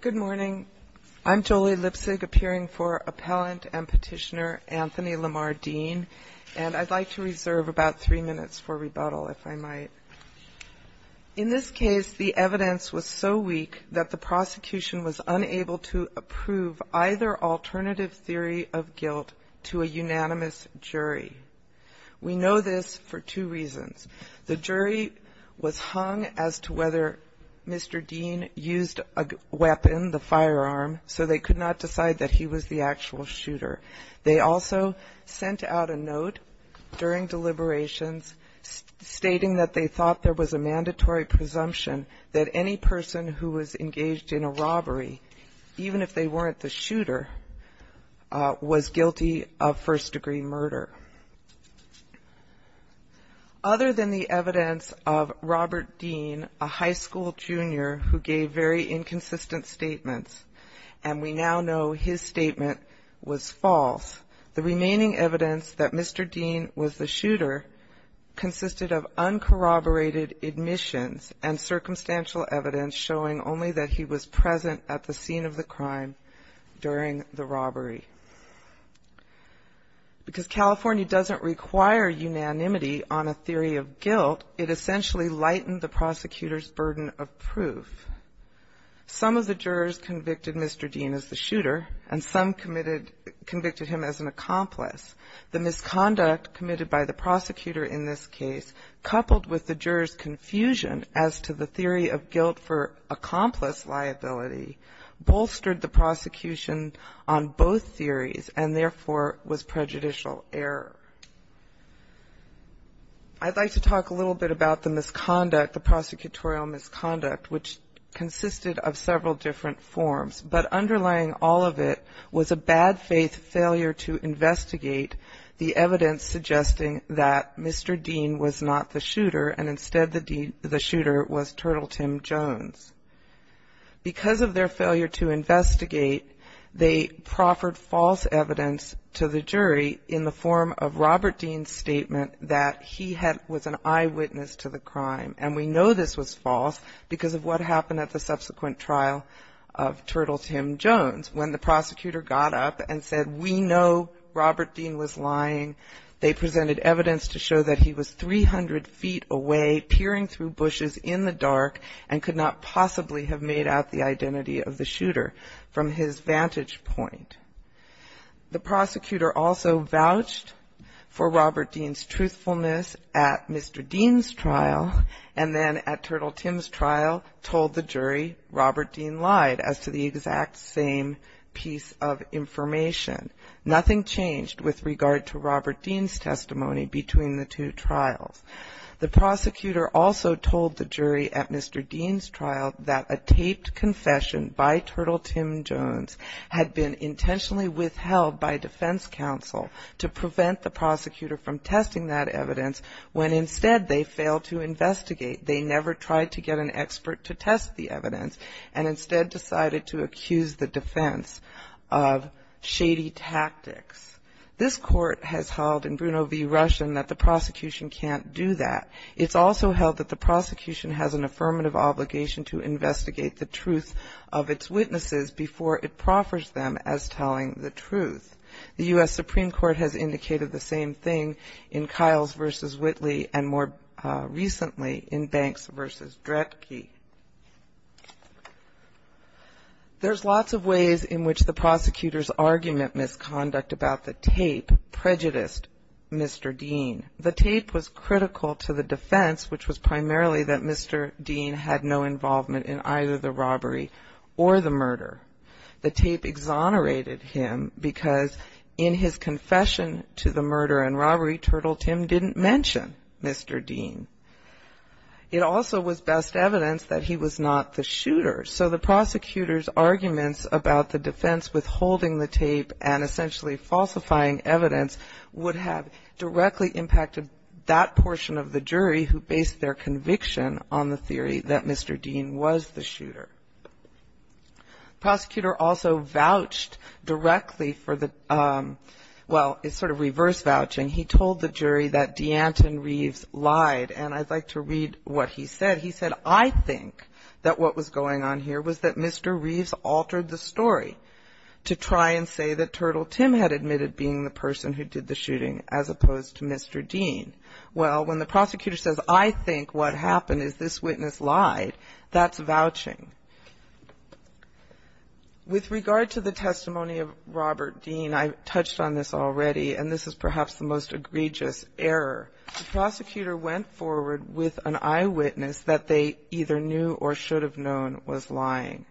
Good morning. I'm Jolie Lipsig, appearing for Appellant and Petitioner Anthony Lamar Dean, and I'd like to reserve about three minutes for rebuttal, if I might. In this case, the evidence was so weak that the prosecution was unable to approve either alternative theory of guilt to a unanimous jury. We know this for two reasons. The jury was hung as to whether Mr. Dean used a weapon, the firearm, so they could not decide that he was the actual shooter. They also sent out a note during deliberations stating that they thought there was a mandatory presumption that any person who was engaged in a robbery, even if they weren't the shooter, was guilty of first-degree murder. Other than the evidence of Robert Dean, a high school junior who gave very inconsistent statements, and we now know his statement was false, the remaining evidence that Mr. Dean was the shooter consisted of uncorroborated admissions and circumstantial evidence showing only that he was present at the scene of the crime during the robbery. Because California doesn't require unanimity on a theory of guilt, it essentially lightened the prosecutor's burden of proof. Some of the jurors convicted Mr. Dean as the shooter, and some convicted him as an accomplice. The misconduct committed by the prosecutor in this case, coupled with the jurors' confusion as to the theory of guilt for accomplice liability, bolstered the prosecution on both theories, and therefore was prejudicial error. I'd like to talk a little bit about the misconduct, the prosecutorial misconduct, which consisted of several different forms, but underlying all of it was a bad faith failure to investigate the evidence suggesting that Mr. Dean was not the shooter, and instead the shooter was Turtle Tim Jones. Because of their failure to investigate, they proffered false evidence to the jury in the form of Robert Dean's statement that he was an eyewitness to the crime, and we know this was false because of what happened at the subsequent trial of Turtle Tim Jones. When the prosecutor got up and said, we know Robert Dean was lying, they presented evidence to show that he was 300 feet away, peering through bushes in the dark, and could not possibly have made out the identity of the shooter from his vantage point. The prosecutor also vouched for Robert Dean's truthfulness at Mr. Dean's trial, and then at Turtle Tim's trial told the jury Robert Dean lied as to the exact same piece of information. Nothing changed with regard to Robert Dean's testimony between the two trials. The prosecutor also told the jury at Mr. Dean's trial that a taped confession by Turtle Tim Jones had been intentionally withheld by defense counsel to prevent the prosecutor from testing that evidence, when instead they failed to investigate. They never tried to get an expert to test the evidence, and instead decided to accuse the defense of shady tactics. This court has held in Bruno v. Russian that the prosecution can't do that. It's also held that the prosecution has an affirmative obligation to investigate the truth of its witnesses before it proffers them as telling the truth. The U.S. Supreme Court has indicated the same thing in Kiles v. Whitley, and more recently in Banks v. Dretke. There's lots of ways in which the prosecutor's argument misconduct about the tape prejudiced Mr. Dean. The tape was critical to the defense, which was primarily that Mr. Dean had no involvement in either the robbery or the murder. The tape exonerated him because in his confession to the murder and robbery, Turtle Tim didn't mention Mr. Dean. It also was best evidence that he was not the shooter, so the prosecutor's arguments about the defense withholding the tape and essentially falsifying evidence would have directly impacted that portion of the jury who based their conviction on the theory that Mr. Dean was the shooter. The prosecutor also vouched directly for the – well, it's sort of reverse vouching. He told the jury that DeAnton Reeves lied, and I'd like to read what he said. He said, I think that what was going on here was that Mr. Reeves altered the story to try and say that Turtle Tim had admitted being the person who did the shooting as opposed to Mr. Dean. Well, when the prosecutor says, I think what happened is this witness lied, that's vouching. With regard to the testimony of Robert Dean, I touched on this already, and this is perhaps the most egregious error. The prosecutor went forward with an eyewitness that they either knew or should have known was lying.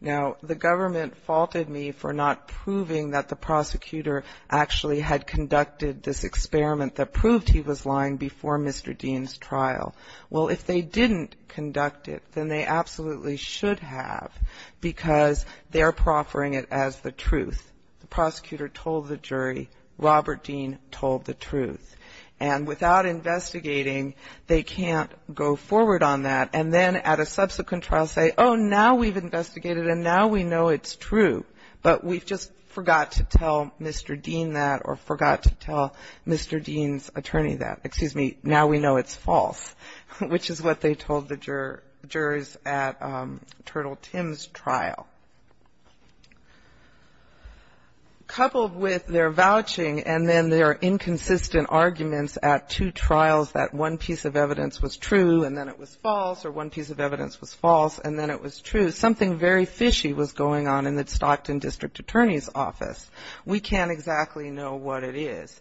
Now, the government faulted me for not proving that the prosecutor actually had conducted this experiment that proved he was lying before Mr. Dean's trial. Well, if they didn't conduct it, then they absolutely should have because they're proffering it as the truth. The prosecutor told the jury Robert Dean told the truth. And without investigating, they can't go forward on that and then at a subsequent trial say, oh, now we've investigated and now we know it's true, but we just forgot to tell Mr. Dean that or forgot to tell Mr. Dean's attorney that. Excuse me. Now we know it's false, which is what they told the jurors at Turtle Tim's trial. Coupled with their vouching and then their inconsistent arguments at two trials that one piece of evidence was true and then it was false or one piece of evidence was false and then it was true, something very fishy was going on in the Stockton District Attorney's Office. We can't exactly know what it is.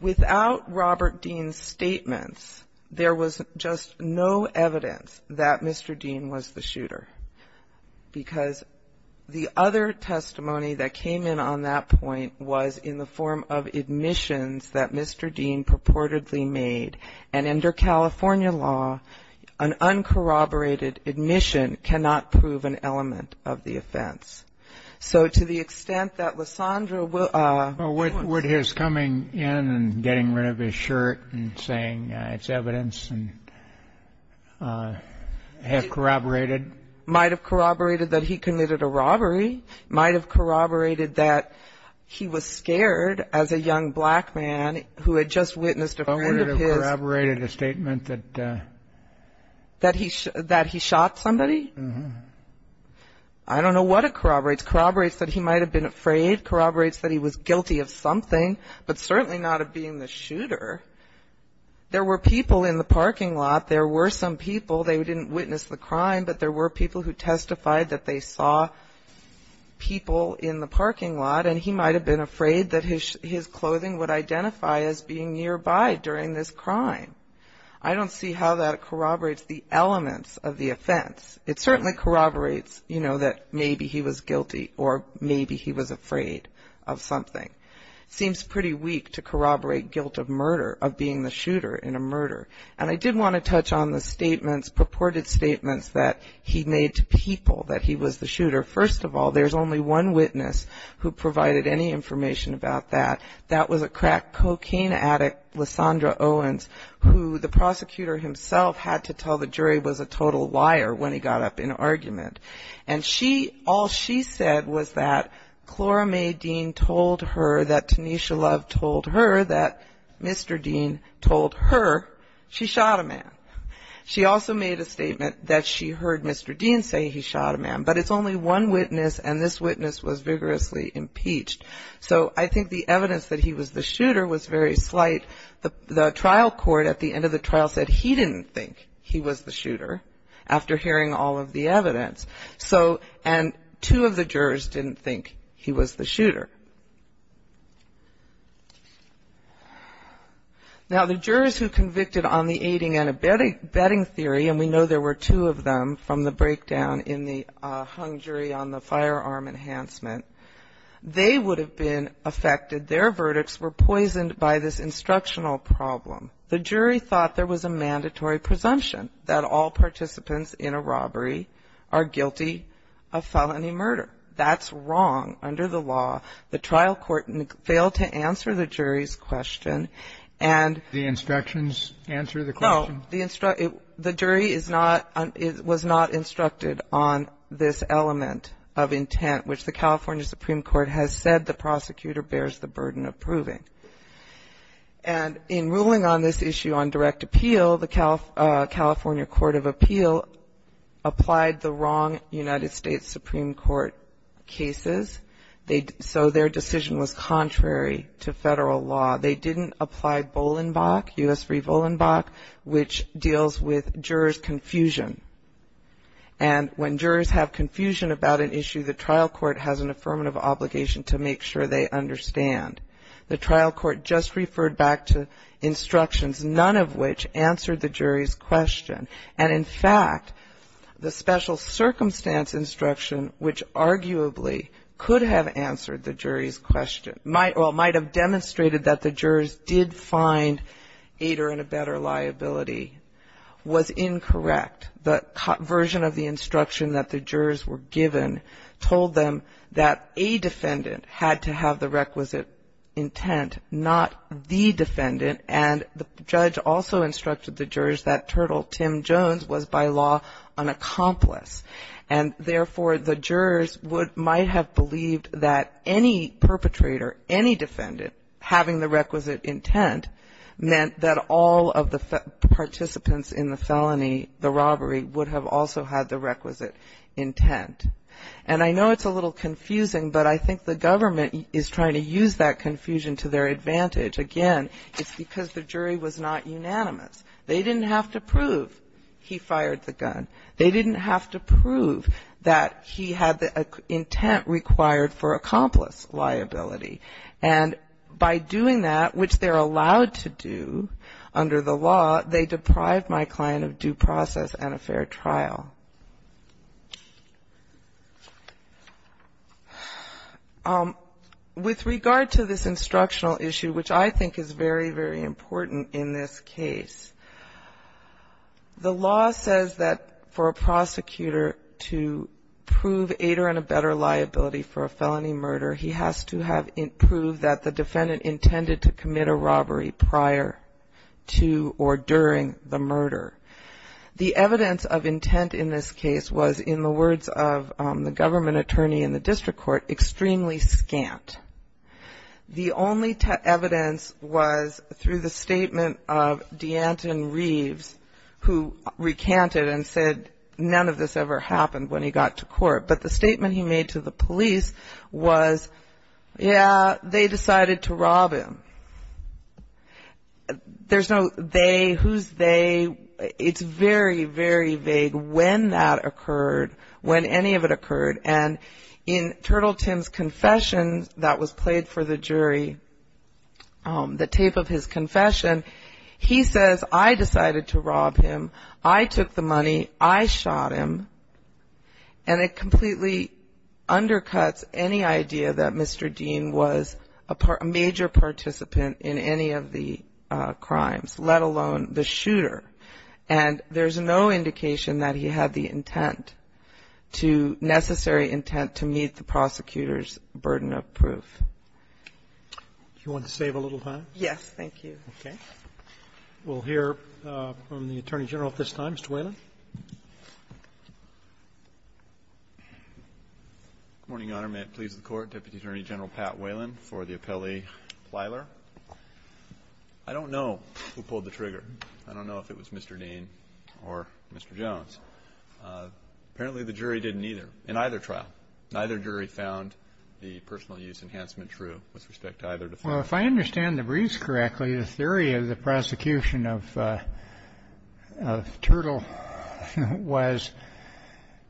Without Robert Dean's statements, there was just no evidence that Mr. Dean was the shooter because the other testimony that came in on that point was in the form of admissions that Mr. Dean purportedly made. And under California law, an uncorroborated admission cannot prove an element of the offense. So to the extent that Lysandra will ---- But would his coming in and getting rid of his shirt and saying it's evidence and have corroborated? Might have corroborated that he committed a robbery. Might have corroborated that he was scared as a young black man who had just witnessed a friend of his. I don't know if it corroborated a statement that ---- That he shot somebody? Uh-huh. I don't know what it corroborates. Corroborates that he might have been afraid. Corroborates that he was guilty of something, but certainly not of being the shooter. There were people in the parking lot. There were some people. They didn't witness the crime, but there were people who testified that they saw people in the parking lot, and he might have been afraid that his clothing would identify as being nearby during this crime. I don't see how that corroborates the elements of the offense. It certainly corroborates, you know, that maybe he was guilty or maybe he was afraid of something. Seems pretty weak to corroborate guilt of murder, of being the shooter in a murder. And I did want to touch on the statements, purported statements that he made to people that he was the shooter. First of all, there's only one witness who provided any information about that. That was a crack cocaine addict, Lysandra Owens, who the prosecutor himself had to tell the jury was a total liar when he got up in argument. And she, all she said was that Clara May Dean told her that Tanisha Love told her that Mr. Dean told her she shot a man. She also made a statement that she heard Mr. Dean say he shot a man. But it's only one witness, and this witness was vigorously impeached. So I think the evidence that he was the shooter was very slight. The trial court at the end of the trial said he didn't think he was the shooter after hearing all of the evidence. So, and two of the jurors didn't think he was the shooter. Now, the jurors who convicted on the aiding and abetting theory, and we know there were two of them from the breakdown in the hung jury on the firearm enhancement, they would have been affected. Their verdicts were poisoned by this instructional problem. The jury thought there was a mandatory presumption that all participants in a robbery are guilty of felony murder. That's wrong under the law. The trial court failed to answer the jury's question, and the jury was not instructed on this element of intent, which the California Supreme Court has said the prosecutor bears the burden of proving. And in ruling on this issue on direct appeal, the California Court of Appeal applied the wrong United States Supreme Court cases. So their decision was contrary to Federal law. They didn't apply Bolenbach, U.S. v. Bolenbach, which deals with jurors' confusion. And when jurors have confusion about an issue, the trial court has an affirmative obligation to make sure they understand. The trial court just referred back to instructions, none of which answered the jury's question. And in fact, the special circumstance instruction, which arguably could have answered the jury's question, or might have demonstrated that the jurors did find Ader in a better liability, was incorrect. The version of the instruction that the jurors were given told them that a defendant had to have the requisite intent, not the defendant. And the judge also instructed the jurors that Turtle Tim Jones was by law an accomplice. And therefore, the jurors might have believed that any perpetrator, any defendant having the requisite intent meant that all of the participants in the felony, the robbery, would have also had the requisite intent. And I know it's a little confusing, but I think the government is trying to use that confusion to their advantage. Again, it's because the jury was not unanimous. They didn't have to prove he fired the gun. They didn't have to prove that he had the intent required for accomplice liability. And by doing that, which they're allowed to do under the law, they deprived my client of due process and a fair trial. With regard to this instructional issue, which I think is very, very important in this case, the law says that for a prosecutor to prove aidor and a better liability for a felony murder, he has to have proved that the defendant intended to commit a robbery prior to or during the murder. The evidence of intent in this case was, in the words of the government attorney in the district court, extremely scant. The only evidence was through the statement of DeAnton Reeves, who recanted and said none of this ever happened when he got to court. But the statement he made to the police was, yeah, they decided to rob him. There's no they, who's they. It's very, very vague when that occurred, when any of it occurred. And in Turtle Tim's confession that was played for the jury, the tape of his confession, he says, I decided to rob him. I took the money. I shot him. And it completely undercuts any idea that Mr. Dean was a major participant in any of the crimes, let alone the shooter. And there's no indication that he had the intent to, necessary intent to meet the prosecutor's burden of proof. Do you want to save a little time? Yes, thank you. Okay. We'll hear from the Attorney General at this time, Mr. Whalen. Good morning, Your Honor. May it please the Court. Deputy Attorney General Pat Whalen for the appellee Plyler. I don't know who pulled the trigger. I don't know if it was Mr. Dean or Mr. Jones. Apparently the jury didn't either, in either trial. Neither jury found the personal use enhancement true with respect to either defendant. Well, if I understand the briefs correctly, the theory of the prosecution of Turtle was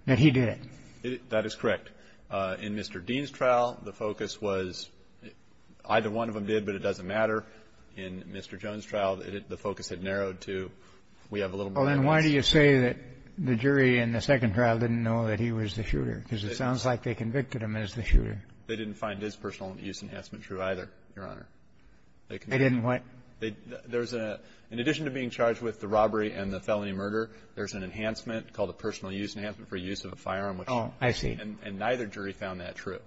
that he did it. That is correct. In Mr. Dean's trial, the focus was either one of them did, but it doesn't matter. In Mr. Jones' trial, the focus had narrowed to we have a little more evidence. Well, then why do you say that the jury in the second trial didn't know that he was the shooter? Because it sounds like they convicted him as the shooter. They didn't find his personal use enhancement true either, Your Honor. They didn't what? There's a — in addition to being charged with the robbery and the felony murder, there's an enhancement called a personal use enhancement for use of a firearm. Oh, I see. And neither jury found that true.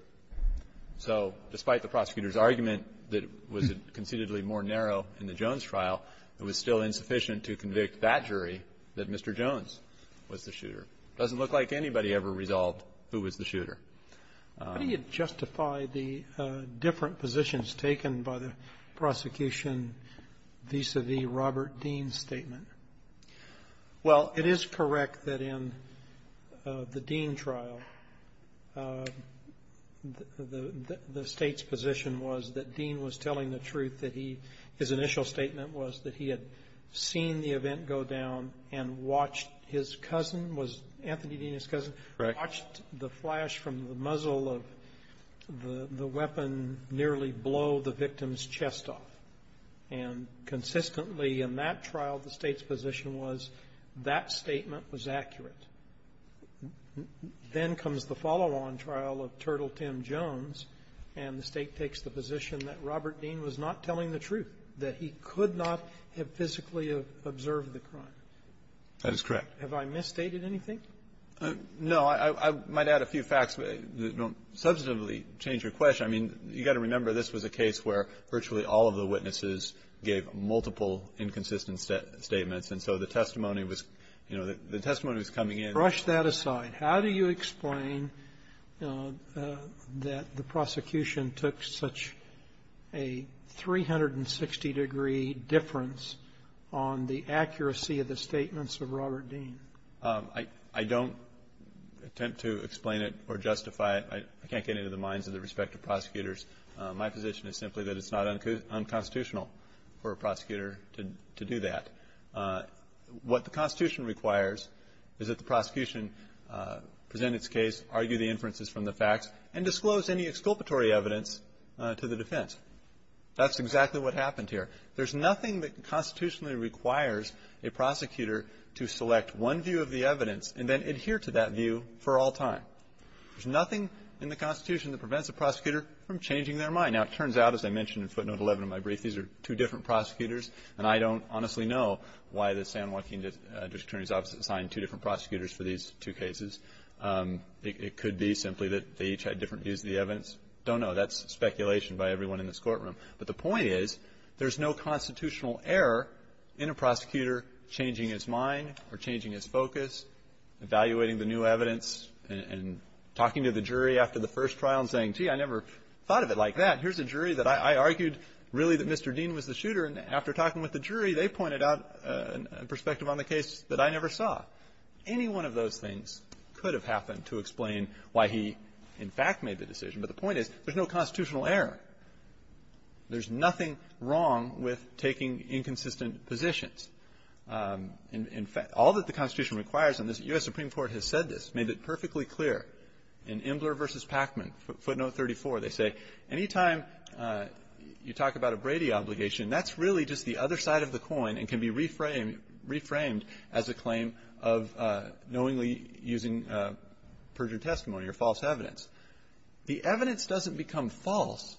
So despite the prosecutor's argument that it was concededly more narrow in the Jones trial, it was still insufficient to convict that jury that Mr. Jones was the shooter. It doesn't look like anybody ever resolved who was the shooter. How do you justify the different positions taken by the prosecution vis-à-vis Robert Dean's statement? Well, it is correct that in the Dean trial, the State's position was that Dean was telling the truth, that he — his initial statement was that he had seen the event go down and watched his cousin, was Anthony Dean his cousin? Right. Watched the flash from the muzzle of the weapon nearly blow the victim's chest off. And consistently in that trial, the State's position was that statement was accurate. Then comes the follow-on trial of Turtle Tim Jones, and the State takes the position that Robert Dean was not telling the truth, that he could not have physically observed the crime. That is correct. Have I misstated anything? No. I might add a few facts that don't substantively change your question. I mean, you've got to remember, this was a case where virtually all of the witnesses gave multiple inconsistent statements. And so the testimony was, you know, the testimony was coming in. Brush that aside. How do you explain that the prosecution took such a 360-degree difference on the accuracy of the statements of Robert Dean? I don't attempt to explain it or justify it. I can't get into the minds of the respective prosecutors. My position is simply that it's not unconstitutional for a prosecutor to do that. What the Constitution requires is that the prosecution present its case, argue the inferences from the facts, and disclose any exculpatory evidence to the defense. That's exactly what happened here. There's nothing that constitutionally requires a prosecutor to select one view of the evidence and then adhere to that view for all time. There's nothing in the Constitution that prevents a prosecutor from changing their mind. Now, it turns out, as I mentioned in footnote 11 of my brief, these are two different prosecutors, and I don't honestly know why the San Joaquin district attorney's office assigned two different prosecutors for these two cases. It could be simply that they each had different views of the evidence. I don't know. That's speculation by everyone in this courtroom. But the point is there's no constitutional error in a prosecutor changing his mind or changing his focus, evaluating the new evidence, and talking to the jury after the first trial and saying, gee, I never thought of it like that. Here's a jury that I argued really that Mr. Dean was the shooter. And after talking with the jury, they pointed out a perspective on the case that I never saw. Any one of those things could have happened to explain why he, in fact, made the decision. But the point is there's no constitutional error. There's nothing wrong with taking inconsistent positions. In fact, all that the Constitution requires on this, the U.S. Supreme Court has said this, made it perfectly clear in Imbler v. Packman, footnote 34, they say, anytime you talk about a Brady obligation, that's really just the other side of the coin and can be reframed as a claim of knowingly using perjured testimony or false evidence. The evidence doesn't become false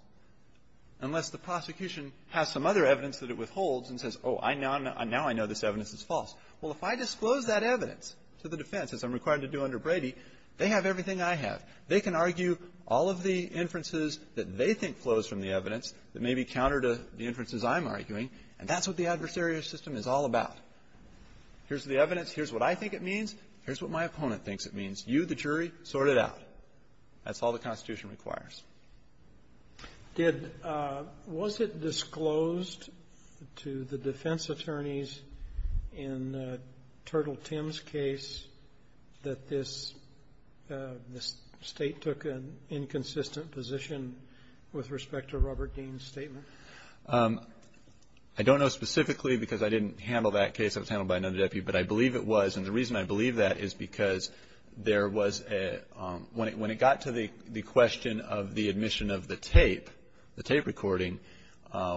unless the prosecution has some other evidence that it withholds and says, oh, now I know this evidence is false. Well, if I disclose that evidence to the defense, as I'm required to do under Brady, they have everything I have. They can argue all of the inferences that they think flows from the evidence that may be counter to the inferences I'm arguing, and that's what the adversarial system is all about. Here's the evidence. Here's what I think it means. Here's what my opponent thinks it means. You, the jury, sort it out. That's all the Constitution requires. Roberts. Was it disclosed to the defense attorneys in Turtle Tim's case that this State took an inconsistent position with respect to Robert Dean's statement? I don't know specifically because I didn't handle that case. It was handled by another deputy, but I believe it was. And the reason I believe that is because there was a – when it got to the question of the admission of the tape, the tape recording,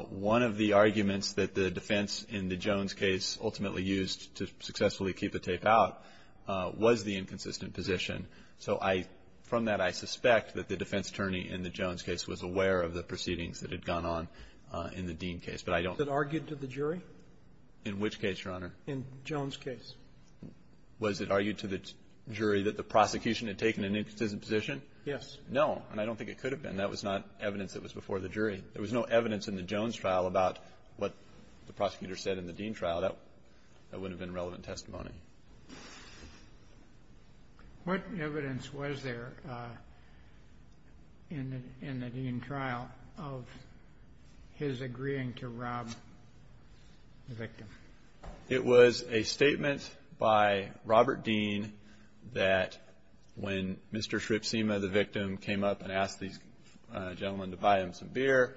one of the arguments that the defense in the Jones case ultimately used to successfully keep the tape out was the inconsistent position. So I – from that, I suspect that the defense attorney in the Jones case was aware of the proceedings that had gone on in the Dean case. But I don't know. Was it argued to the jury? In which case, Your Honor? In Jones' case. Was it argued to the jury that the prosecution had taken an inconsistent position? Yes. No, and I don't think it could have been. That was not evidence that was before the jury. There was no evidence in the Jones trial about what the prosecutor said in the Dean trial. That wouldn't have been relevant testimony. What evidence was there in the Dean trial of his agreeing to rob the victim? It was a statement by Robert Dean that when Mr. Shripsema, the victim, came up and asked these gentlemen to buy him some beer,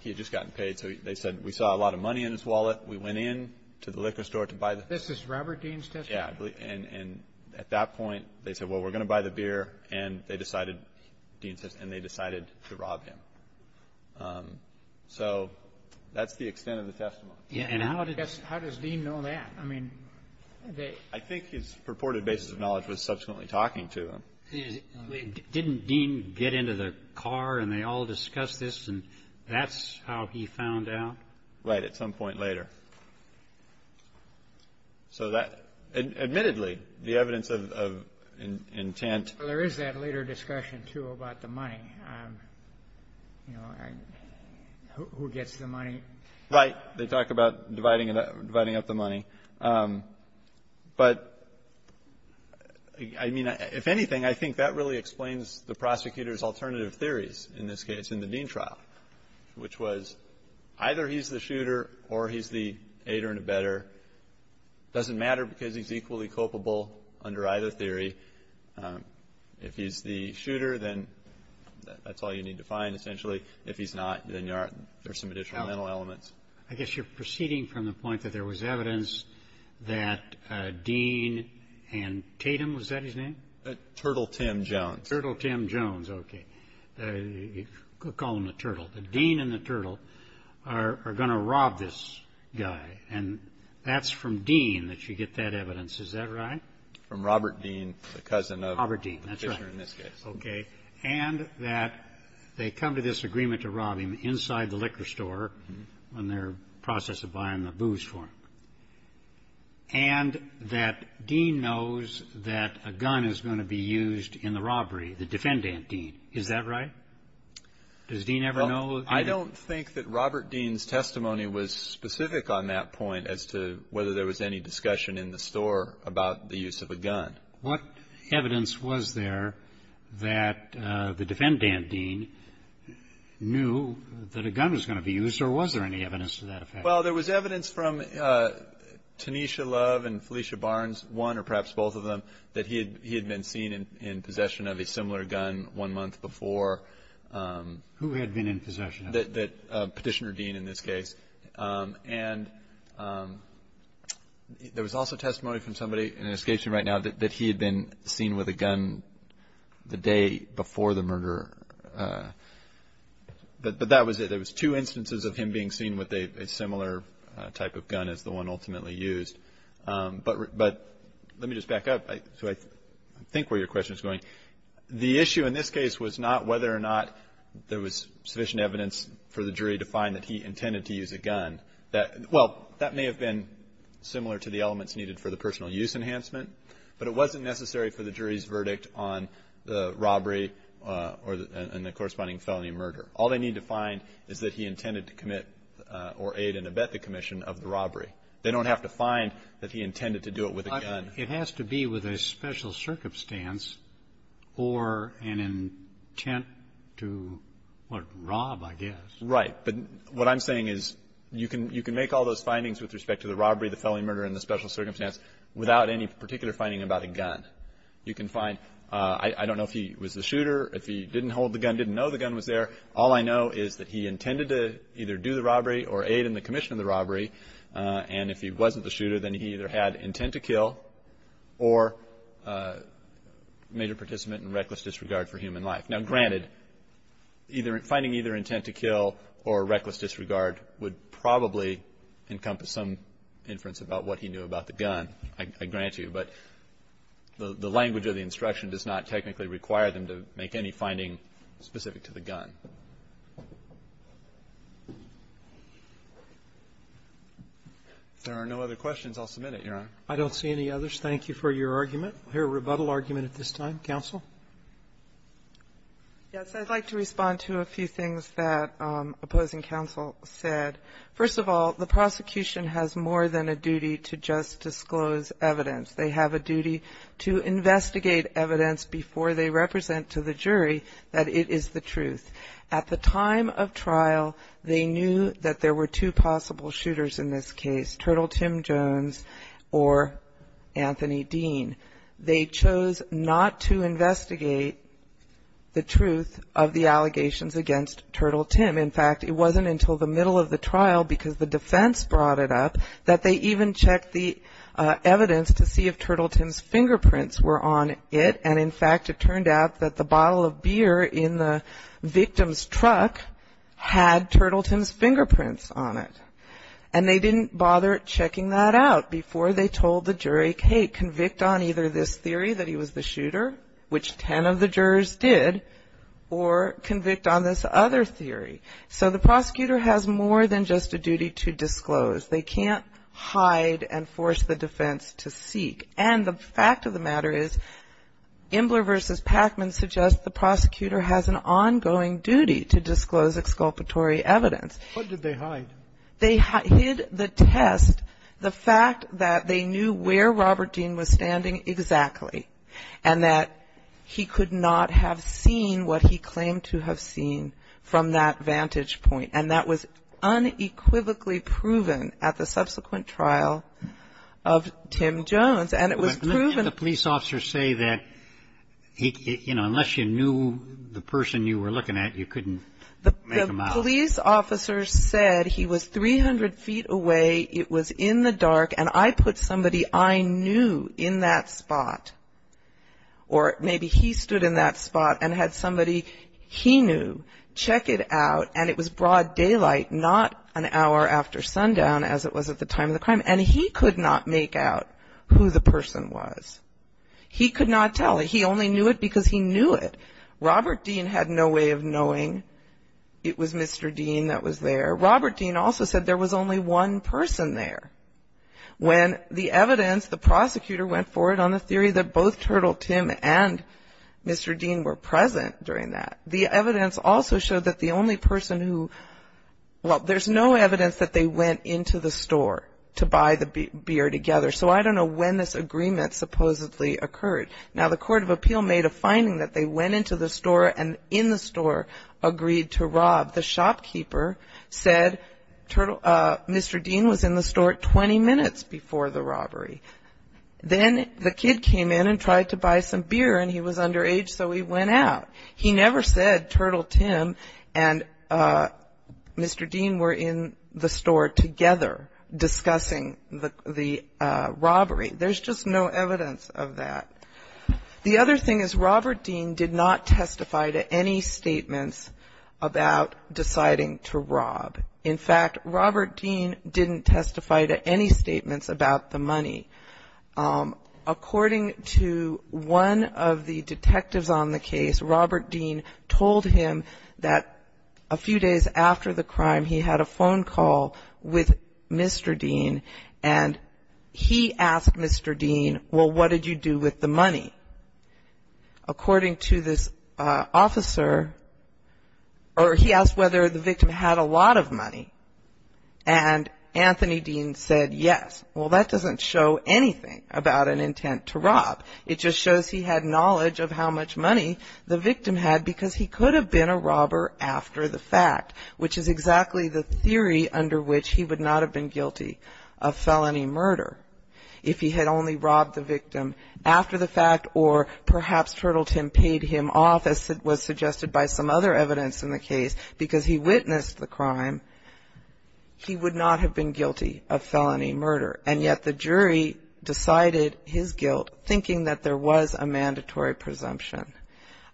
he had just gotten paid. So they said, we saw a lot of money in his wallet. We went in to the liquor store to buy the beer. This is Robert Dean's testimony? Yeah. And at that point, they said, well, we're going to buy the beer. And they decided – Dean's testimony – and they decided to rob him. So that's the extent of the testimony. And how does Dean know that? I mean, they – I think his purported basis of knowledge was subsequently talking to him. Didn't Dean get into the car, and they all discussed this, and that's how he found out? Right, at some point later. So that – admittedly, the evidence of intent – Well, there is that later discussion, too, about the money, you know, who gets the money. Right. They talk about dividing up the money. But, I mean, if anything, I think that really explains the prosecutor's alternative theories in this case in the Dean trial, which was either he's the shooter or he's the aider and abetter. It doesn't matter because he's equally culpable under either theory. If he's the shooter, then that's all you need to find, essentially. If he's not, then there's some additional mental elements. I guess you're proceeding from the point that there was evidence that Dean and Tatum – was that his name? Turtle Tim Jones. Turtle Tim Jones. Okay. We'll call him the Turtle. The Dean and the Turtle are going to rob this guy, and that's from Dean that you get that evidence. Is that right? From Robert Dean, the cousin of – Robert Dean. That's right. Okay. And that they come to this agreement to rob him inside the liquor store when they're in the process of buying the booze for him. And that Dean knows that a gun is going to be used in the robbery, the defendant, Dean. Is that right? Does Dean ever know? I don't think that Robert Dean's testimony was specific on that point as to whether there was any discussion in the store about the use of a gun. What evidence was there that the defendant, Dean, knew that a gun was going to be used, or was there any evidence to that effect? Well, there was evidence from Tanisha Love and Felicia Barnes, one or perhaps both of them, that he had been seen in possession of a similar gun one month before. Who had been in possession of it? Petitioner Dean, in this case. And there was also testimony from somebody, and it escapes me right now, that he had been seen with a gun the day before the murder. But that was it. There was two instances of him being seen with a similar type of gun as the one ultimately used. But let me just back up so I think where your question is going. The issue in this case was not whether or not there was sufficient evidence for the jury to find that he intended to use a gun. Well, that may have been similar to the elements needed for the personal use enhancement, but it wasn't necessary for the jury's verdict on the robbery and the corresponding felony murder. All they need to find is that he intended to commit or aid and abet the commission of the robbery. They don't have to find that he intended to do it with a gun. It has to be with a special circumstance or an intent to rob, I guess. Right. But what I'm saying is you can make all those findings with respect to the robbery, the felony murder, and the special circumstance without any particular finding about a gun. You can find, I don't know if he was the shooter, if he didn't hold the gun, didn't know the gun was there. All I know is that he intended to either do the robbery or aid in the commission of the robbery. And if he wasn't the shooter, then he either had intent to kill or major participant in reckless disregard for human life. Now, granted, finding either intent to kill or reckless disregard would probably encompass some inference about what he knew about the gun, I grant you. But the language of the instruction does not technically require them to make any finding specific to the gun. If there are no other questions, I'll submit it, Your Honor. I don't see any others. Thank you for your argument. I'll hear a rebuttal argument at this time. Counsel. Yes. I'd like to respond to a few things that opposing counsel said. First of all, the prosecution has more than a duty to just disclose evidence. They have a duty to investigate evidence before they represent to the jury that it is the truth. At the time of trial, they knew that there were two possible shooters in this case, Turtle Tim Jones or Anthony Dean. They chose not to investigate the truth of the allegations against Turtle Tim. In fact, it wasn't until the middle of the trial because the defense brought it up that they even checked the evidence to see if Turtle Tim's fingerprints were on it. And, in fact, it turned out that the bottle of beer in the victim's truck had Turtle Tim's fingerprints on it. And they didn't bother checking that out before they told the jury, hey, convict on either this theory that he was the shooter, which 10 of the jurors did, or convict on this other theory. And the fact of the matter is, Imbler v. Packman suggests the prosecutor has an ongoing duty to disclose exculpatory evidence. What did they hide? They hid the test, the fact that they knew where Robert Dean was standing exactly and that he could not have seen what he claimed to have seen from that vantage point. And that was unequivocally proven at the subsequent trial of Tim Jones. And it was proven. But didn't the police officer say that, you know, unless you knew the person you were looking at, you couldn't make him out? The police officer said he was 300 feet away, it was in the dark, and I put somebody I knew in that spot. Or maybe he stood in that spot and had somebody he knew check it out, and it was broad daylight, not an hour after sundown as it was at the time of the crime. And he could not make out who the person was. He could not tell. He only knew it because he knew it. Robert Dean had no way of knowing it was Mr. Dean that was there. Robert Dean also said there was only one person there. When the evidence, the prosecutor went forward on the theory that both Turtle Tim and Mr. Dean were present during that. The evidence also showed that the only person who, well, there's no evidence that they went into the store to buy the beer together. So I don't know when this agreement supposedly occurred. Now, the court of appeal made a finding that they went into the store and in the store agreed to rob. The shopkeeper said Mr. Dean was in the store 20 minutes before the robbery. Then the kid came in and tried to buy some beer, and he was underage, so he went out. He never said Turtle Tim and Mr. Dean were in the store together discussing the robbery. There's just no evidence of that. The other thing is Robert Dean did not testify to any statements about deciding to rob. In fact, Robert Dean didn't testify to any statements about the money. According to one of the detectives on the case, Robert Dean told him that a few days after the crime he had a phone call with Mr. Dean, and he asked Mr. Dean, well, what did you do with the money? According to this officer, or he asked whether the victim had a lot of money. And Anthony Dean said yes. Well, that doesn't show anything about an intent to rob. It just shows he had knowledge of how much money the victim had because he could have been a robber after the fact, which is exactly the theory under which he would not have been guilty of felony murder if he had only robbed the victim after the fact, or perhaps Turtle Tim paid him off as was suggested by some other evidence in the case because he witnessed the crime. He would not have been guilty of felony murder, and yet the jury decided his guilt thinking that there was a mandatory presumption.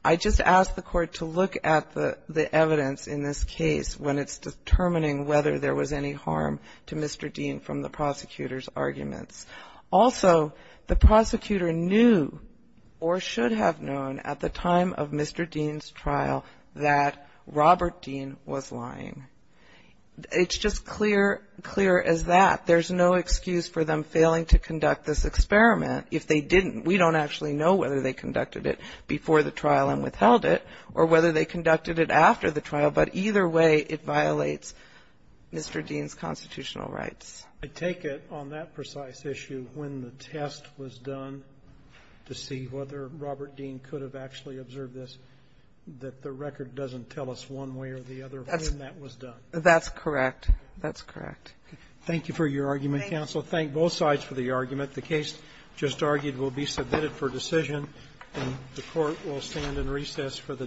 I just ask the Court to look at the evidence in this case when it's determining whether there was any harm to Mr. Dean from the prosecutor's arguments. Also, the prosecutor knew or should have known at the time of Mr. Dean's trial that Robert Dean was lying. It's just clear as that. There's no excuse for them failing to conduct this experiment if they didn't. We don't actually know whether they conducted it before the trial and withheld it or whether they conducted it after the trial, but either way, it violates Mr. Dean's constitutional rights. I take it on that precise issue when the test was done to see whether Robert Dean could have actually observed this, that the record doesn't tell us one way or the other when that was done. That's correct. That's correct. Thank you. Thank both sides for the argument. The case just argued will be submitted for decision, and the Court will stand in recess for the day.